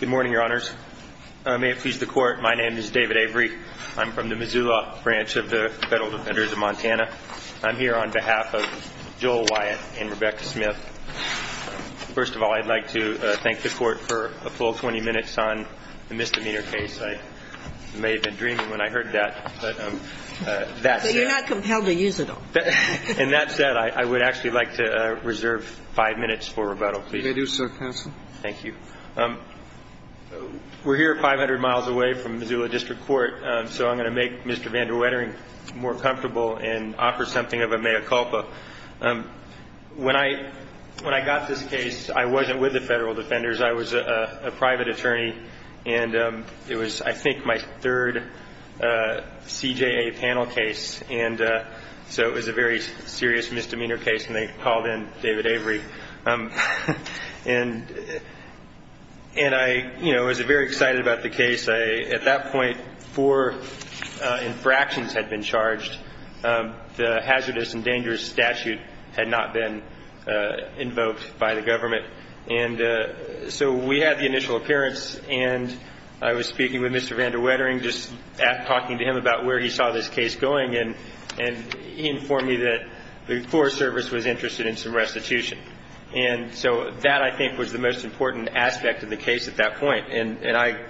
Good morning, Your Honors. May it please the Court, my name is David Avery. I'm from the Missoula branch of the Federal Defenders of Montana. I'm here on behalf of Joel Wyatt and Rebecca Smith. First of all, I'd like to thank the Court for a full 20 minutes on the misdemeanor case. I may have been dreaming when I heard that, but that's it. But you're not compelled to use it, though. And that said, I would actually like to reserve five minutes for rebuttal, please. As you may do, sir, counsel. Thank you. We're here 500 miles away from Missoula District Court, so I'm going to make Mr. Van der Wettering more comfortable and offer something of a mea culpa. When I got this case, I wasn't with the Federal Defenders. I was a private attorney, and it was, I think, my third CJA panel case. And so it was a very serious misdemeanor case, and they called in David Avery. And I was very excited about the case. At that point, four infractions had been charged. The hazardous and dangerous statute had not been invoked by the government. And so we had the initial appearance, and I was speaking with Mr. Van der Wettering, just talking to him about where he saw this case going, and he informed me that the Forest Service was interested in some restitution. And so that, I think, was the most important aspect of the case at that point. And I,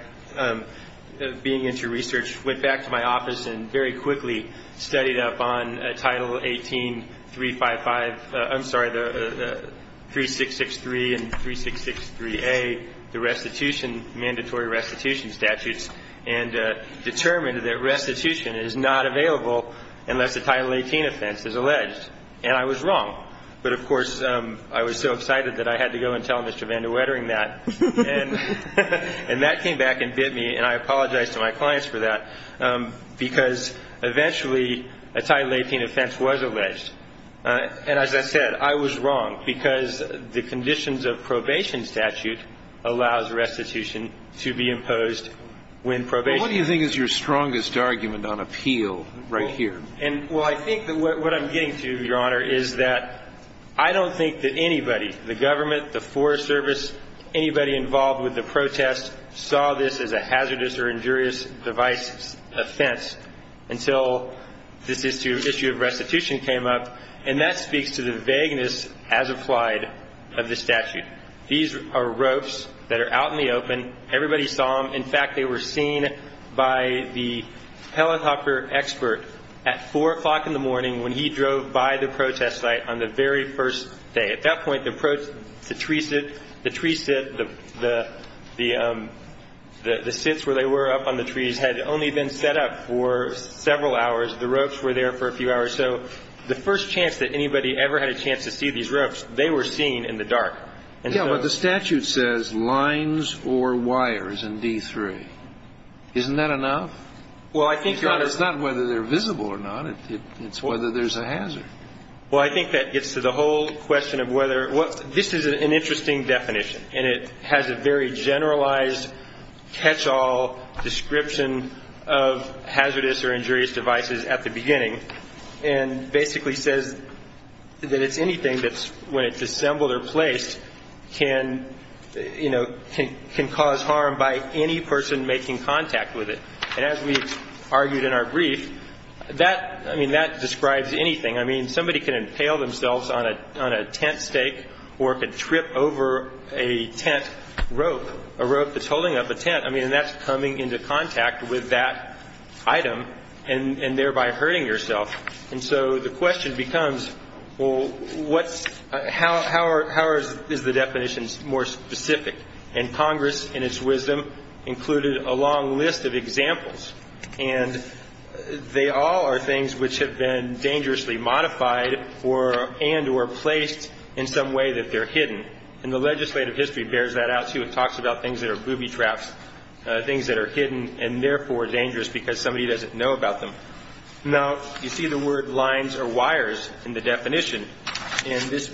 being into research, went back to my office and very quickly studied up on Title 18-355 ‑‑ I'm sorry, the 3663 and 3663A, the restitution, mandatory restitution statutes. And determined that restitution is not available unless a Title 18 offense is alleged. And I was wrong. But, of course, I was so excited that I had to go and tell Mr. Van der Wettering that. And that came back and bit me, and I apologized to my clients for that, because eventually a Title 18 offense was alleged. And as I said, I was wrong, because the conditions of probation statute allows restitution to be imposed when probation ‑‑ Well, what do you think is your strongest argument on appeal right here? Well, I think that what I'm getting to, Your Honor, is that I don't think that anybody, the government, the Forest Service, anybody involved with the protest, saw this as a hazardous or injurious device offense until this issue of restitution came up. And that speaks to the vagueness, as applied, of the statute. These are ropes that are out in the open. Everybody saw them. In fact, they were seen by the helicopter expert at 4 o'clock in the morning when he drove by the protest site on the very first day. At that point, the tree sit, the sits where they were up on the trees, had only been set up for several hours. The ropes were there for a few hours. So the first chance that anybody ever had a chance to see these ropes, they were seen in the dark. Yeah, but the statute says lines or wires in D3. Isn't that enough? Well, I think, Your Honor ‑‑ It's not whether they're visible or not. It's whether there's a hazard. Well, I think that gets to the whole question of whether ‑‑ This is an interesting definition, and it has a very generalized catchall description of hazardous or injurious devices at the beginning. And basically says that it's anything that's, when it's assembled or placed, can, you know, can cause harm by any person making contact with it. And as we argued in our brief, that, I mean, that describes anything. I mean, somebody can impale themselves on a tent stake or can trip over a tent rope, a rope that's holding up a tent. I mean, and that's coming into contact with that item and thereby hurting yourself. And so the question becomes, well, how is the definition more specific? And Congress, in its wisdom, included a long list of examples. And they all are things which have been dangerously modified and or placed in some way that they're hidden. And the legislative history bears that out, too. It talks about things that are booby traps, things that are hidden and therefore dangerous because somebody doesn't know about them. Now, you see the word lines or wires in the definition. And this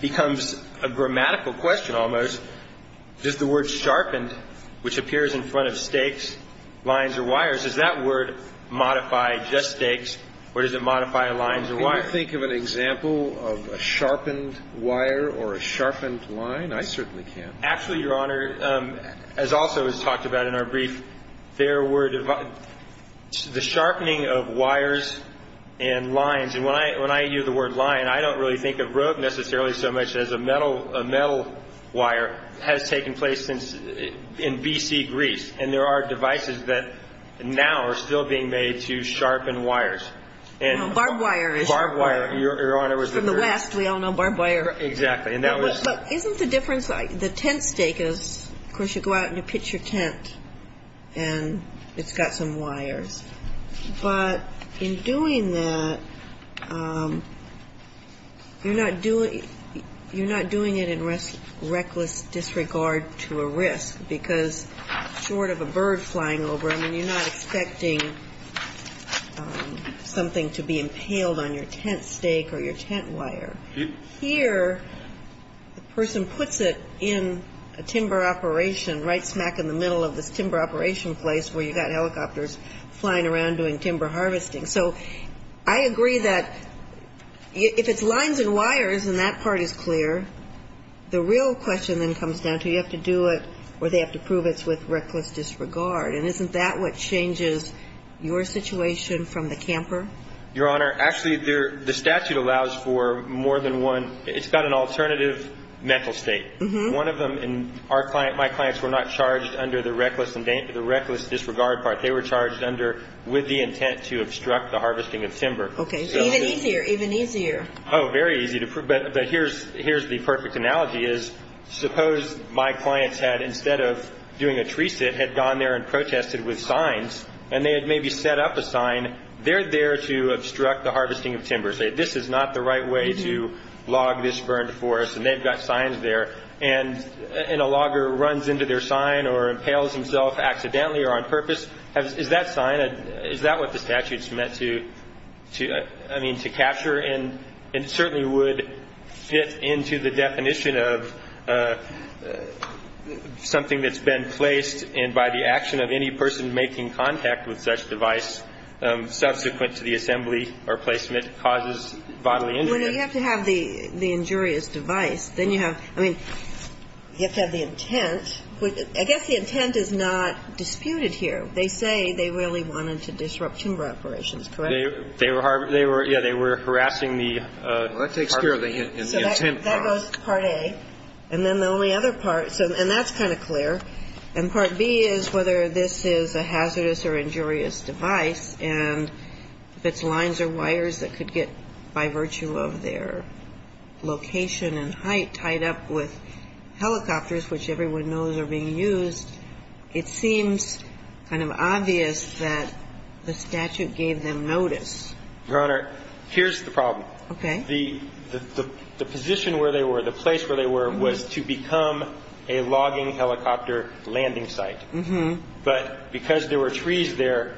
becomes a grammatical question almost. Does the word sharpened, which appears in front of stakes, lines or wires, does that word modify just stakes or does it modify lines or wires? Can you think of an example of a sharpened wire or a sharpened line? I certainly can't. Actually, Your Honor, as also is talked about in our brief, there were the sharpening of wires and lines. And when I use the word line, I don't really think of rope necessarily so much as a metal wire, has taken place since in B.C. Greece. And there are devices that now are still being made to sharpen wires. Now, barbed wire is the word. Barbed wire, Your Honor, is the word. From the West, we all know barbed wire. Exactly. But isn't the difference like the tent stake is, of course, you go out and you pitch your tent and it's got some wires. But in doing that, you're not doing it in reckless disregard to a risk because short of a bird flying over, I mean, you're not expecting something to be impaled on your tent stake or your tent wire. Here, the person puts it in a timber operation right smack in the middle of this timber operation place where you've got helicopters flying around doing timber harvesting. So I agree that if it's lines and wires and that part is clear, the real question then comes down to you have to do it or they have to prove it's with reckless disregard. And isn't that what changes your situation from the camper? Your Honor, actually, the statute allows for more than one. It's got an alternative mental state. One of them, my clients were not charged under the reckless disregard part. They were charged under with the intent to obstruct the harvesting of timber. Okay. So even easier, even easier. Oh, very easy to prove. But here's the perfect analogy is suppose my clients had, instead of doing a tree sit, had gone there and protested with signs and they had maybe set up a sign. They're there to obstruct the harvesting of timber. Say, this is not the right way to log this burned forest. And they've got signs there. And a logger runs into their sign or impales himself accidentally or on purpose. Is that sign, is that what the statute's meant to, I mean, to capture? And it certainly would fit into the definition of something that's been placed. And by the action of any person making contact with such device, subsequent to the assembly or placement causes bodily injury. Well, you have to have the injurious device. Then you have, I mean, you have to have the intent. I guess the intent is not disputed here. They say they really wanted to disrupt timber operations. Correct? They were harvesting. Yeah, they were harassing the part. Well, that takes care of the intent. So that goes to Part A. And then the only other part, and that's kind of clear. And Part B is whether this is a hazardous or injurious device. And if it's lines or wires that could get, by virtue of their location and height, tied up with helicopters, which everyone knows are being used, it seems kind of obvious that the statute gave them notice. Your Honor, here's the problem. Okay. The position where they were, the place where they were, was to become a logging helicopter landing site. But because there were trees there,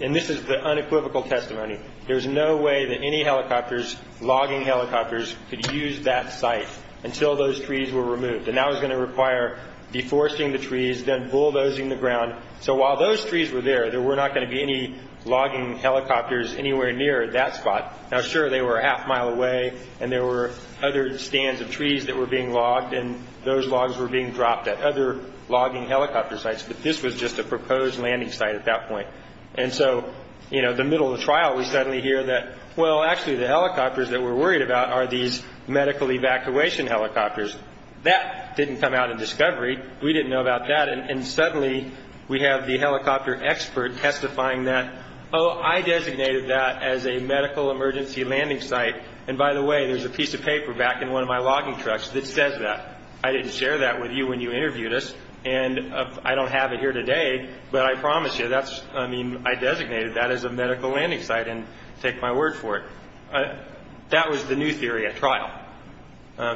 and this is the unequivocal testimony, there's no way that any helicopters, logging helicopters, could use that site until those trees were removed. And that was going to require deforesting the trees, then bulldozing the ground. So while those trees were there, there were not going to be any logging helicopters anywhere near that spot. Now, sure, they were a half mile away, and there were other stands of trees that were being logged, and those logs were being dropped at other logging helicopter sites. But this was just a proposed landing site at that point. And so, you know, the middle of the trial, we suddenly hear that, well, actually the helicopters that we're worried about are these medical evacuation helicopters. That didn't come out in discovery. We didn't know about that. And suddenly we have the helicopter expert testifying that, oh, I designated that as a medical emergency landing site. And by the way, there's a piece of paper back in one of my logging trucks that says that. I didn't share that with you when you interviewed us. And I don't have it here today, but I promise you that's, I mean, I designated that as a medical landing site and take my word for it. That was the new theory at trial.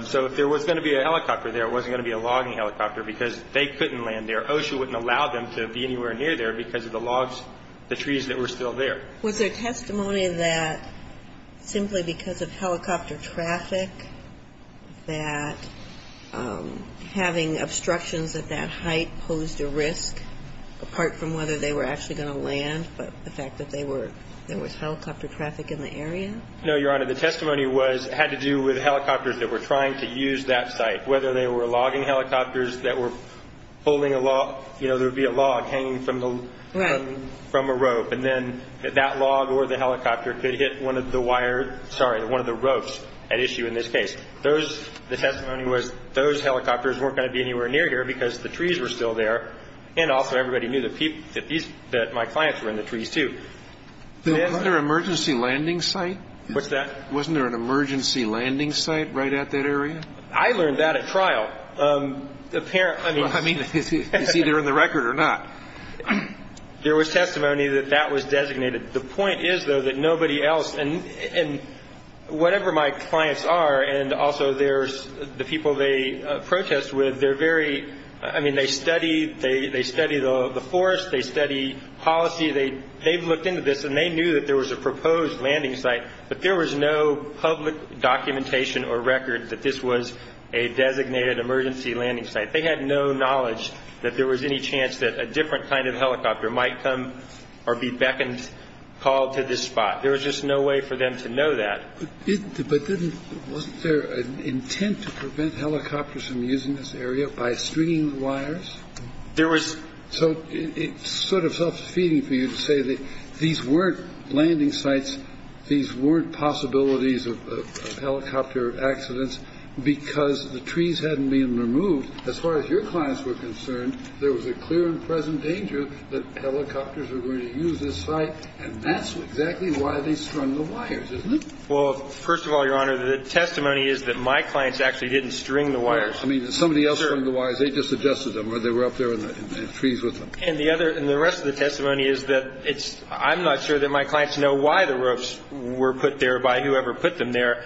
So if there was going to be a helicopter there, it wasn't going to be a logging helicopter because they couldn't land there. OSHA wouldn't allow them to be anywhere near there because of the logs, the trees that were still there. Was there testimony that simply because of helicopter traffic, that having obstructions at that height posed a risk, apart from whether they were actually going to land, but the fact that there was helicopter traffic in the area? No, Your Honor. The testimony had to do with helicopters that were trying to use that site, whether they were logging helicopters that were holding a log, you know, there would be a log hanging from a rope. And then that log or the helicopter could hit one of the wire, sorry, one of the ropes at issue in this case. The testimony was those helicopters weren't going to be anywhere near here because the trees were still there. And also everybody knew that my clients were in the trees, too. Wasn't there an emergency landing site? What's that? Wasn't there an emergency landing site right at that area? I learned that at trial. I mean, it's either in the record or not. There was testimony that that was designated. The point is, though, that nobody else, and whatever my clients are and also the people they protest with, they're very, I mean, they study the forest. They study policy. They've looked into this, and they knew that there was a proposed landing site, but there was no public documentation or record that this was a designated emergency landing site. They had no knowledge that there was any chance that a different kind of helicopter might come or be beckoned, called to this spot. There was just no way for them to know that. But wasn't there an intent to prevent helicopters from using this area by stringing the wires? There was. So it's sort of self-defeating for you to say that these weren't landing sites, these weren't possibilities of helicopter accidents because the trees hadn't been removed. As far as your clients were concerned, there was a clear and present danger that helicopters were going to use this site, and that's exactly why they strung the wires, isn't it? Well, first of all, Your Honor, the testimony is that my clients actually didn't string the wires. I mean, somebody else strung the wires. They just adjusted them, or they were up there in the trees with them. And the rest of the testimony is that I'm not sure that my clients know why the ropes were put there by whoever put them there.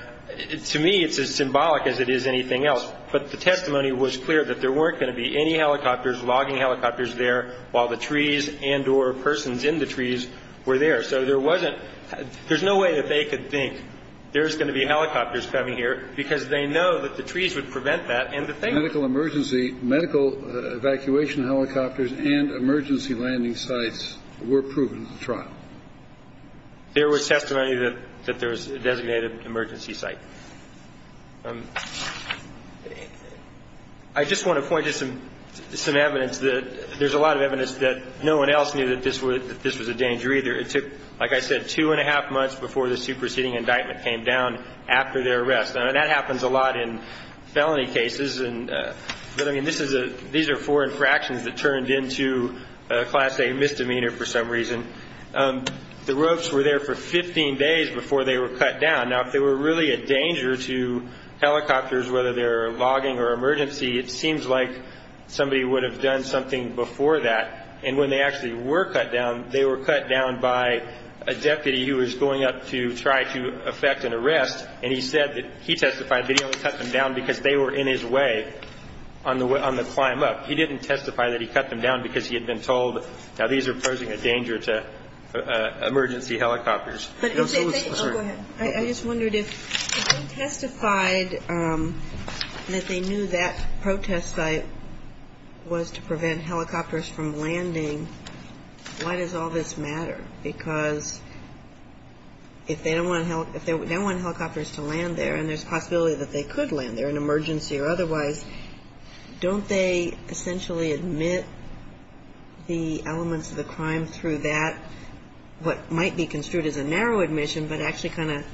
To me, it's as symbolic as it is anything else. But the testimony was clear that there weren't going to be any helicopters, logging helicopters there while the trees and or persons in the trees were there. So there wasn't – there's no way that they could think there's going to be helicopters coming here because they know that the trees would prevent that, and the thing – Medical emergency – medical evacuation helicopters and emergency landing sites were proven at the trial. There was testimony that there was a designated emergency site. I just want to point to some evidence that – there's a lot of evidence that no one else knew that this was a danger either. It took, like I said, two and a half months before the superseding indictment came down after their arrest. I mean, that happens a lot in felony cases. But, I mean, this is a – these are four infractions that turned into a Class A misdemeanor for some reason. The ropes were there for 15 days before they were cut down. Now, if they were really a danger to helicopters, whether they're logging or emergency, it seems like somebody would have done something before that. And when they actually were cut down, they were cut down by a deputy who was going up to try to effect an arrest, and he said that – he testified that he only cut them down because they were in his way on the climb up. He didn't testify that he cut them down because he had been told – now, these are posing a danger to emergency helicopters. I'm sorry. I just wondered if they testified that they knew that protest site was to prevent helicopters from landing, why does all this matter? Because if they don't want helicopters to land there, and there's a possibility that they could land there in an emergency or otherwise, don't they essentially admit the elements of the crime through that, what might be construed as a narrow admission but actually kind of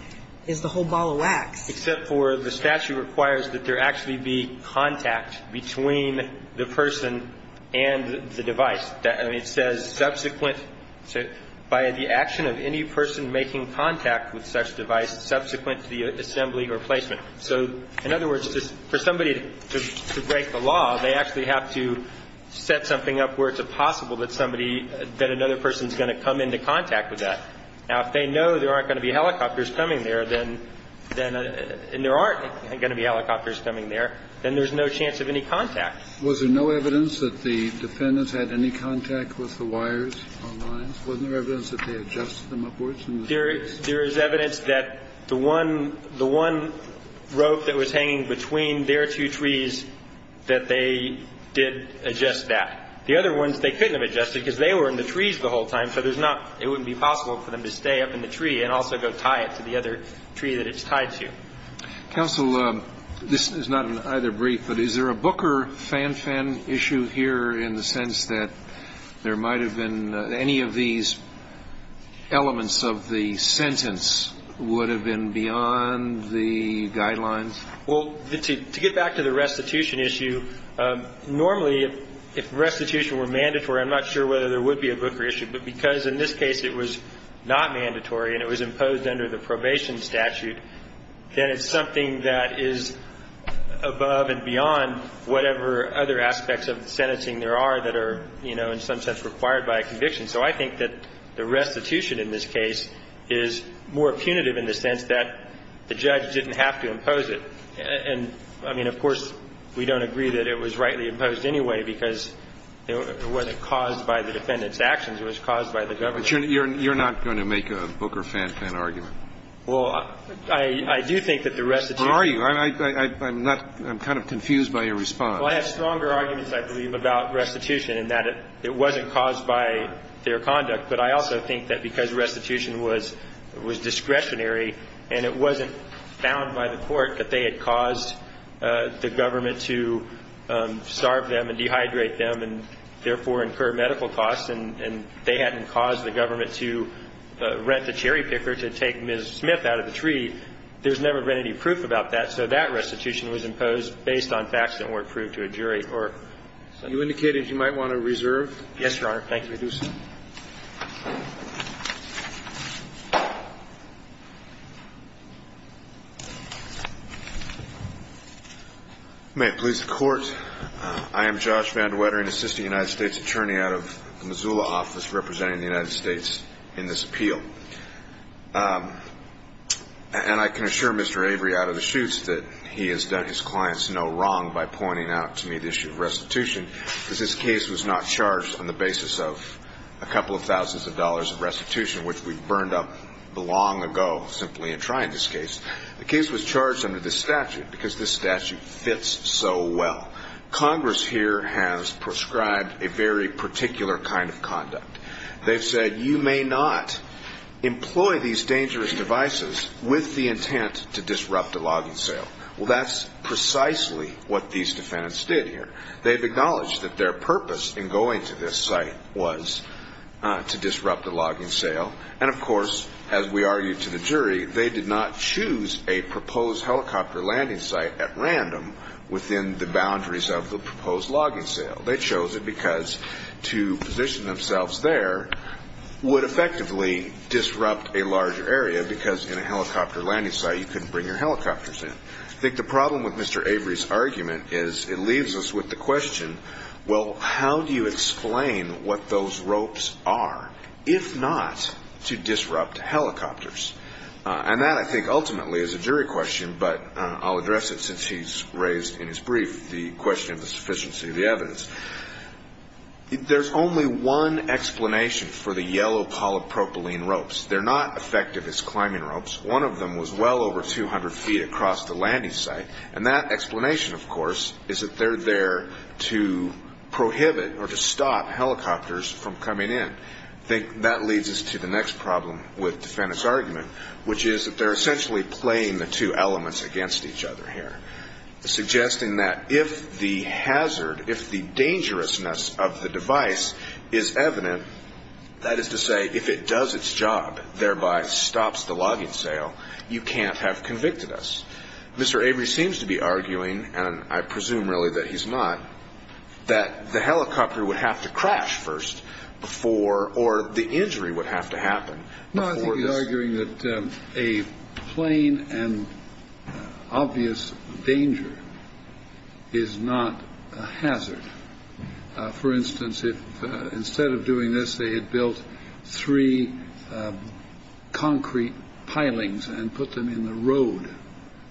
is the whole ball of wax? Except for the statute requires that there actually be contact between the person and the device. It says subsequent – by the action of any person making contact with such device subsequent to the assembly or placement. So in other words, for somebody to break the law, they actually have to set something up where it's possible that somebody – that another person is going to come into contact with that. Now, if they know there aren't going to be helicopters coming there, then – and there aren't going to be helicopters coming there, then there's no chance of any contact. Was there no evidence that the defendants had any contact with the wires on the lines? Wasn't there evidence that they adjusted them upwards in the space? There is evidence that the one rope that was hanging between their two trees, that they did adjust that. The other ones, they couldn't have adjusted because they were in the trees the whole time, so there's not – it wouldn't be possible for them to stay up in the tree and also go tie it to the other tree that it's tied to. Counsel, this is not either brief, but is there a Booker fan-fan issue here in the sense that there might have been – any of these elements of the sentence would have been beyond the guidelines? Well, to get back to the restitution issue, normally if restitution were mandatory, I'm not sure whether there would be a Booker issue, but because in this case it was not mandatory and it was imposed under the probation statute, then it's something that is above and beyond whatever other aspects of the sentencing there are that are, you know, in some sense required by a conviction. So I think that the restitution in this case is more punitive in the sense that the judge didn't have to impose it. And, I mean, of course, we don't agree that it was rightly imposed anyway because it wasn't caused by the defendant's actions. It was caused by the government. But you're not going to make a Booker fan-fan argument? Well, I do think that the restitution – Or are you? I'm not – I'm kind of confused by your response. Well, I have stronger arguments, I believe, about restitution in that it wasn't caused by their conduct. But I also think that because restitution was discretionary and it wasn't found by the court that they had caused the government to starve them and dehydrate them and therefore incur medical costs and they hadn't caused the government to rent the cherry picker to take Ms. Smith out of the tree, there's never been any proof about that. So that restitution was imposed based on facts that weren't proved to a jury or something. You indicated you might want to reserve. Yes, Your Honor. Thank you. You may do so. May it please the Court. I am Josh Van De Wettering, assistant United States attorney out of the Missoula office representing the United States in this appeal. And I can assure Mr. Avery out of the chutes that he has done his clients no wrong by pointing out to me the issue of restitution because this case was not charged on the basis of a couple of thousands of dollars of restitution, which we burned up long ago simply in trying this case. The case was charged under this statute because this statute fits so well. Congress here has prescribed a very particular kind of conduct. They've said you may not employ these dangerous devices with the intent to disrupt a logging sale. Well, that's precisely what these defendants did here. They've acknowledged that their purpose in going to this site was to disrupt the logging sale. And, of course, as we argued to the jury, they did not choose a proposed helicopter landing site at random within the boundaries of the proposed logging sale. They chose it because to position themselves there would effectively disrupt a larger area because in a helicopter landing site you couldn't bring your helicopters in. I think the problem with Mr. Avery's argument is it leaves us with the question, well, how do you explain what those ropes are? If not to disrupt helicopters. And that I think ultimately is a jury question, but I'll address it since he's raised in his brief the question of the sufficiency of the evidence. There's only one explanation for the yellow polypropylene ropes. They're not effective as climbing ropes. One of them was well over 200 feet across the landing site. And that explanation, of course, is that they're there to prohibit or to stop helicopters from coming in. I think that leads us to the next problem with Defendant's argument, which is that they're essentially playing the two elements against each other here, suggesting that if the hazard, if the dangerousness of the device is evident, that is to say if it does its job, thereby stops the logging sale, you can't have convicted us. Mr. Avery seems to be arguing, and I presume really that he's not, that the helicopter would have to crash first before or the injury would have to happen. No, I think he's arguing that a plane and obvious danger is not a hazard. For instance, if instead of doing this, they had built three concrete pilings and put them in the road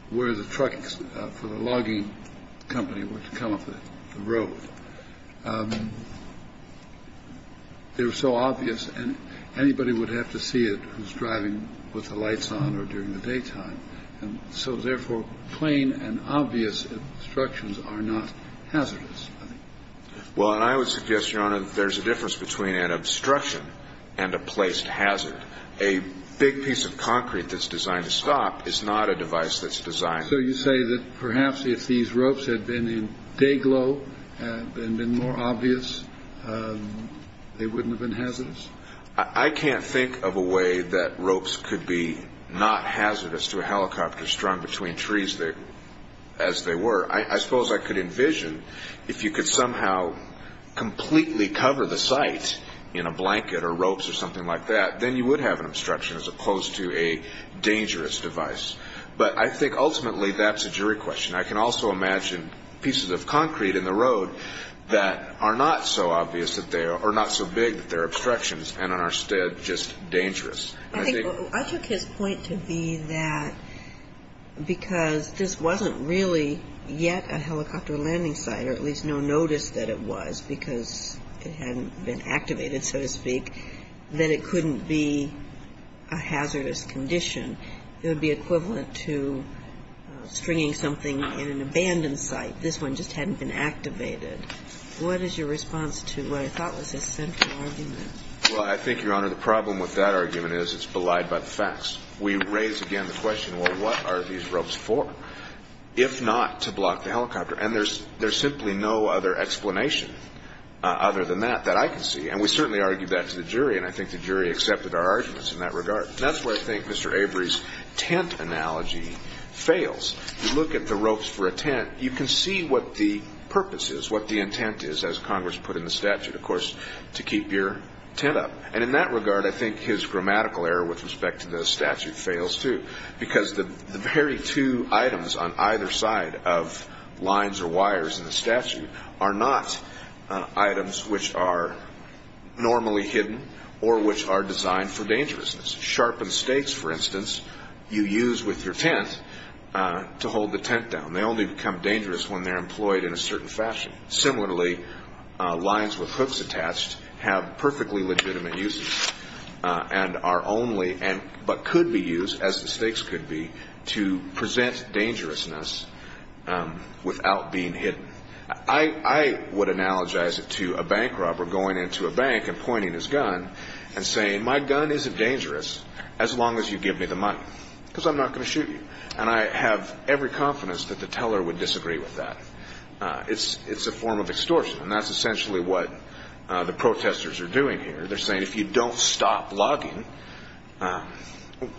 where the trucks for the logging company were to come up the road, they were so obvious and anybody would have to see it who's driving with the lights on or during the daytime. And so therefore, plane and obvious instructions are not hazardous. Well, I would suggest, Your Honor, there's a difference between an obstruction and a placed hazard. A big piece of concrete that's designed to stop is not a device that's designed. So you say that perhaps if these ropes had been in dayglow and been more obvious, they wouldn't have been hazardous. I can't think of a way that ropes could be not hazardous to a helicopter strung between trees as they were. I suppose I could envision if you could somehow completely cover the site in a blanket or ropes or something like that, then you would have an obstruction as opposed to a dangerous device. But I think ultimately that's a jury question. I can also imagine pieces of concrete in the road that are not so obvious that they are not so big that they're obstructions and instead just dangerous. I took his point to be that because this wasn't really yet a helicopter landing site or at least no notice that it was because it hadn't been activated, so to speak, that it couldn't be a hazardous condition. It would be equivalent to stringing something in an abandoned site. This one just hadn't been activated. What is your response to what I thought was a central argument? Well, I think, Your Honor, the problem with that argument is it's belied by the facts. We raise again the question, well, what are these ropes for, if not to block the helicopter? And there's simply no other explanation other than that that I can see. And we certainly argued that to the jury, and I think the jury accepted our arguments in that regard. That's where I think Mr. Avery's tent analogy fails. You look at the ropes for a tent, you can see what the purpose is, what the intent is, as Congress put in the statute, of course, to keep your tent up. And in that regard, I think his grammatical error with respect to the statute fails too because the very two items on either side of lines or wires in the statute are not items which are normally hidden or which are designed for dangerousness. Sharpened stakes, for instance, you use with your tent to hold the tent down. They only become dangerous when they're employed in a certain fashion. Similarly, lines with hooks attached have perfectly legitimate uses and are only but could be used, as the stakes could be, to present dangerousness without being hidden. I would analogize it to a bank robber going into a bank and pointing his gun and saying, my gun isn't dangerous as long as you give me the money because I'm not going to shoot you. And I have every confidence that the teller would disagree with that. It's a form of extortion, and that's essentially what the protesters are doing here. They're saying, if you don't stop logging,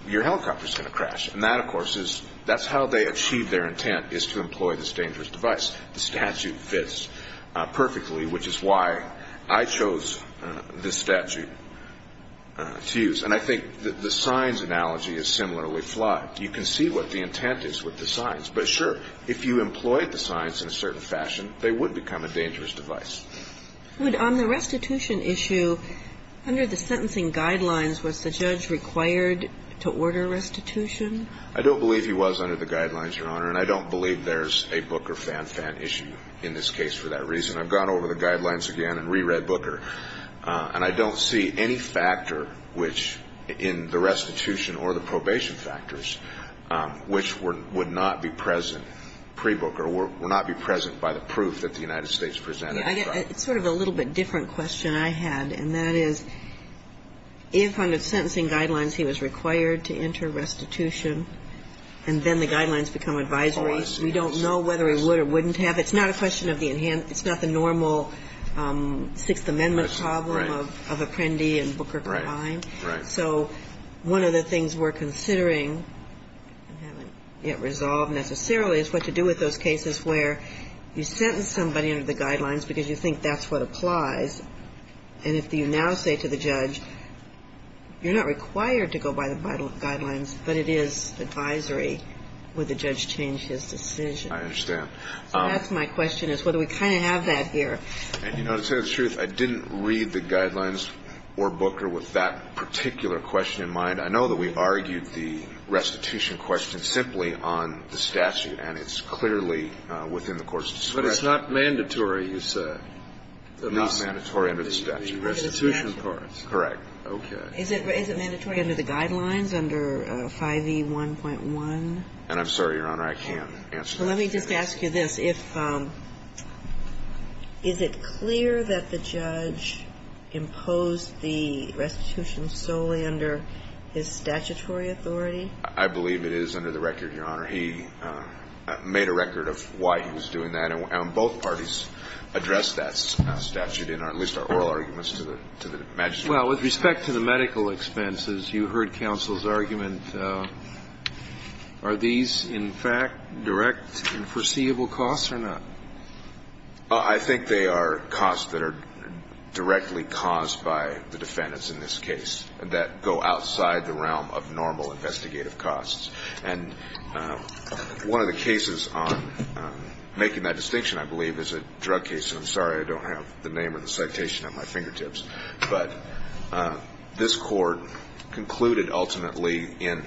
your helicopter's going to crash. And that, of course, is that's how they achieve their intent is to employ this dangerous device. The statute fits perfectly, which is why I chose this statute to use. And I think the signs analogy is similarly flawed. You can see what the intent is with the signs. But, sure, if you employed the signs in a certain fashion, they would become a dangerous device. On the restitution issue, under the sentencing guidelines, was the judge required to order restitution? I don't believe he was under the guidelines, Your Honor. And I don't believe there's a Booker-Fan-Fan issue in this case for that reason. I've gone over the guidelines again and reread Booker. And I don't see any factor which in the restitution or the probation factors which would not be present pre-Booker or would not be present by the proof that the United States presented. It's sort of a little bit different question I had, and that is, if under sentencing guidelines he was required to enter restitution and then the guidelines become advisories, we don't know whether he would or wouldn't have. It's not the normal Sixth Amendment problem of Apprendi and Booker combined. So one of the things we're considering, and haven't yet resolved necessarily, is what to do with those cases where you sentence somebody under the guidelines because you think that's what applies. And if you now say to the judge, you're not required to go by the guidelines, but it is advisory, would the judge change his decision? I understand. So that's my question, is whether we kind of have that here. And you know, to tell you the truth, I didn't read the guidelines or Booker with that particular question in mind. I know that we argued the restitution question simply on the statute, and it's clearly within the court's discretion. But it's not mandatory, you said. It's not mandatory under the statute. The restitution part. Correct. Okay. Is it mandatory under the guidelines, under 5E1.1? And I'm sorry, Your Honor, I can't answer that. So let me just ask you this. Is it clear that the judge imposed the restitution solely under his statutory authority? I believe it is under the record, Your Honor. He made a record of why he was doing that, and both parties addressed that statute in at least our oral arguments to the magistrate. Well, with respect to the medical expenses, you heard counsel's argument. Are these, in fact, direct and foreseeable costs or not? I think they are costs that are directly caused by the defendants in this case that go outside the realm of normal investigative costs. And one of the cases on making that distinction, I believe, is a drug case. And I'm sorry I don't have the name or the citation at my fingertips. But this court concluded ultimately in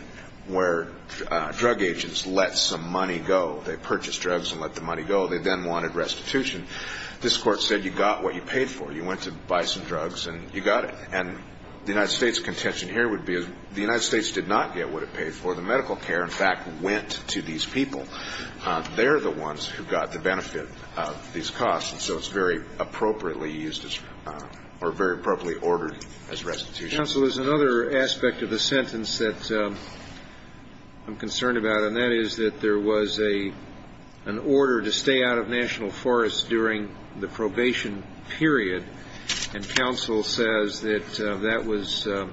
where drug agents let some money go. They purchased drugs and let the money go. They then wanted restitution. This court said you got what you paid for. You went to buy some drugs and you got it. And the United States' contention here would be the United States did not get what it paid for. The medical care, in fact, went to these people. They're the ones who got the benefit of these costs. And so it's very appropriately used or very appropriately ordered as restitution. Counsel, there's another aspect of the sentence that I'm concerned about, and that is that there was an order to stay out of National Forests during the probation period. And counsel says that that was a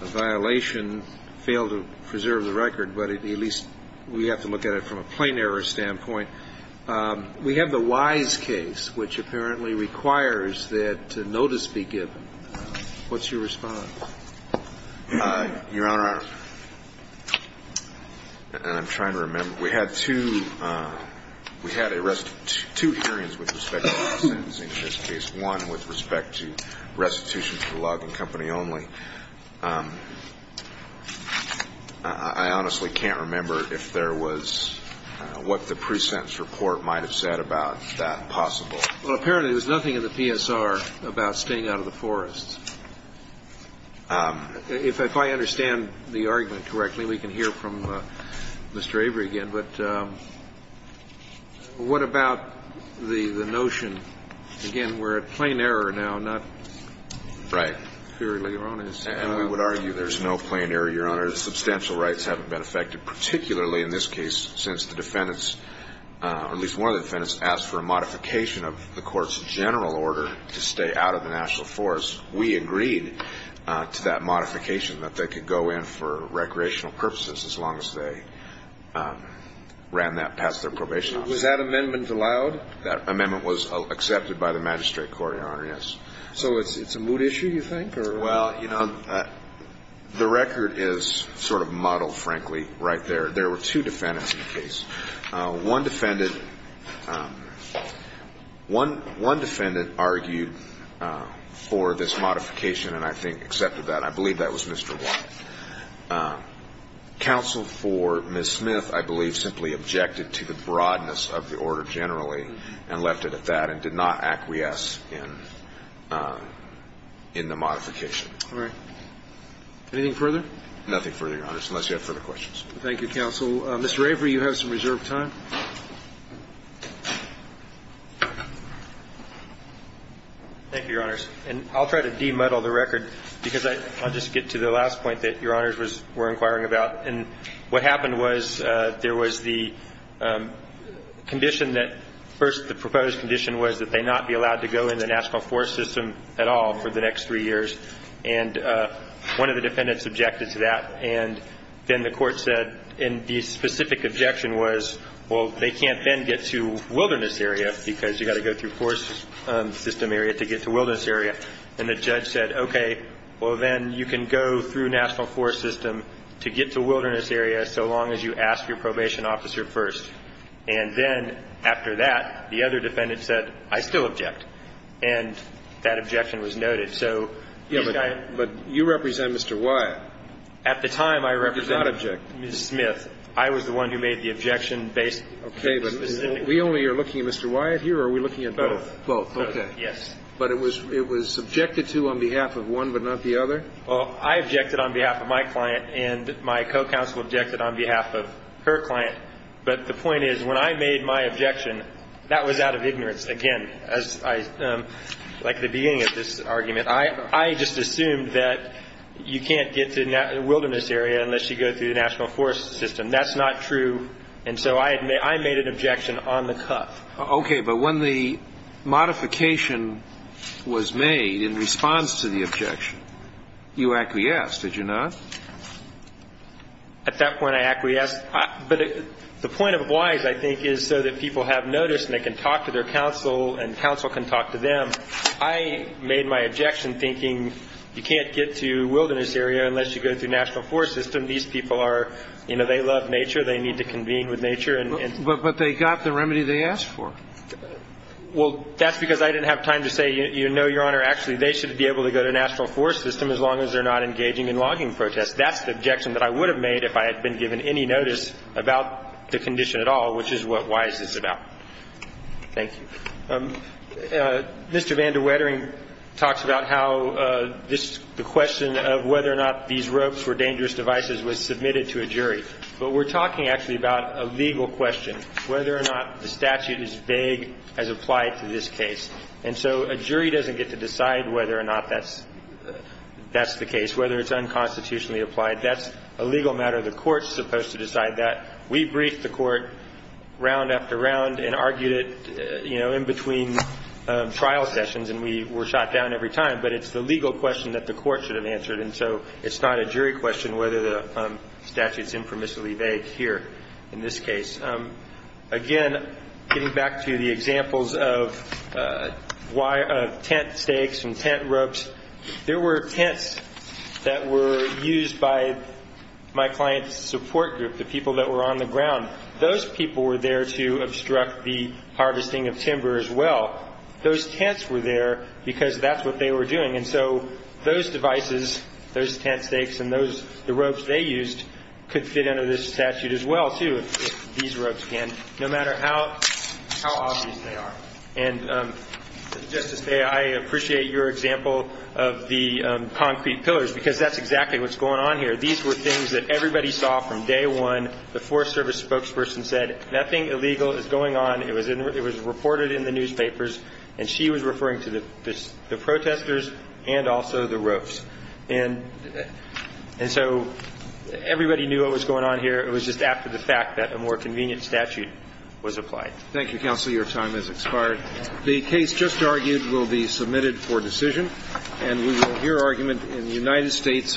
violation, failed to preserve the record, but at least we have to look at it from a plain error standpoint. We have the Wise case, which apparently requires that notice be given. What's your response? Your Honor, I'm trying to remember. We had two hearings with respect to the sentencing in this case, one with respect to restitution for the logging company only. I honestly can't remember if there was what the pre-sentence report might have said about that possible. Well, apparently there was nothing in the PSR about staying out of the forests. If I understand the argument correctly, we can hear from Mr. Avery again. But what about the notion, again, we're at plain error now, not purely erroneous. And we would argue there's no plain error, Your Honor. Substantial rights haven't been affected, particularly in this case since the defendants, or at least one of the defendants, asked for a modification of the court's general order to stay out of the National Forests. We agreed to that modification, that they could go in for recreational purposes as long as they ran that past their probation officer. Was that amendment allowed? That amendment was accepted by the magistrate court, Your Honor, yes. So it's a mood issue, you think? Well, you know, the record is sort of muddled, frankly, right there. There were two defendants in the case. One defendant argued for this modification and I think accepted that. I believe that was Mr. White. Counsel for Ms. Smith, I believe, simply objected to the broadness of the order generally and left it at that and did not acquiesce in the modification. All right. Anything further? Nothing further, Your Honors, unless you have further questions. Thank you, counsel. Mr. Avery, you have some reserved time. Thank you, Your Honors. And I'll try to demuddle the record, because I'll just get to the last point that Your Honors was – were inquiring about. And what happened was there was the condition that – first, the proposed condition was that they not be allowed to go in the national forest system at all for the next three years. And one of the defendants objected to that. And then the court said – and the specific objection was, well, they can't then get to wilderness area because you've got to go through forest system area to get to wilderness area. And the judge said, okay, well, then you can go through national forest system to get to wilderness area so long as you ask your probation officer first. And then after that, the other defendant said, I still object. And that objection was noted. So this guy – Yes, but you represent Mr. Wyatt. At the time, I represented – You did not object. Ms. Smith. I was the one who made the objection based – Okay. But we only are looking at Mr. Wyatt here, or are we looking at both? Both. Yes. But it was – it was objected to on behalf of one but not the other? Well, I objected on behalf of my client, and my co-counsel objected on behalf of her client. But the point is, when I made my objection, that was out of ignorance, again, as I – like the beginning of this argument. I just assumed that you can't get to wilderness area unless you go through the national forest system. That's not true. And so I made an objection on the cuff. Okay. But when the modification was made in response to the objection, you acquiesced, did you not? At that point, I acquiesced. But the point of oblige, I think, is so that people have notice and they can talk to their counsel and counsel can talk to them. I made my objection thinking you can't get to wilderness area unless you go through national forest system. These people are – you know, they love nature. They need to convene with nature. But they got the remedy they asked for. Well, that's because I didn't have time to say, you know, Your Honor, actually, they should be able to go to national forest system as long as they're not engaging in logging protests. That's the objection that I would have made if I had been given any notice about the condition at all, which is what WISE is about. Thank you. Mr. Van de Wetering talks about how this – the question of whether or not these ropes were dangerous devices was submitted to a jury. But we're talking actually about a legal question, whether or not the statute is vague as applied to this case. And so a jury doesn't get to decide whether or not that's the case, whether it's unconstitutionally applied. That's a legal matter. The court's supposed to decide that. We briefed the court round after round and argued it, you know, in between trial sessions, and we were shot down every time. But it's the legal question that the court should have answered. And so it's not a jury question whether the statute's informationally vague here in this case. Again, getting back to the examples of tent stakes and tent ropes, there were tents that were used by my client's support group, the people that were on the ground. Those people were there to obstruct the harvesting of timber as well. Those tents were there because that's what they were doing. And so those devices, those tent stakes and those ropes they used could fit under this statute as well, too, if these ropes can, no matter how obvious they are. And, Justice Day, I appreciate your example of the concrete pillars because that's exactly what's going on here. These were things that everybody saw from day one. The Forest Service spokesperson said, nothing illegal is going on. It was reported in the newspapers. And she was referring to the protestors and also the ropes. And so everybody knew what was going on here. It was just after the fact that a more convenient statute was applied. Thank you, Counselor. Your time has expired. The case just argued will be submitted for decision. And we will hear argument in the United States v. Jensen.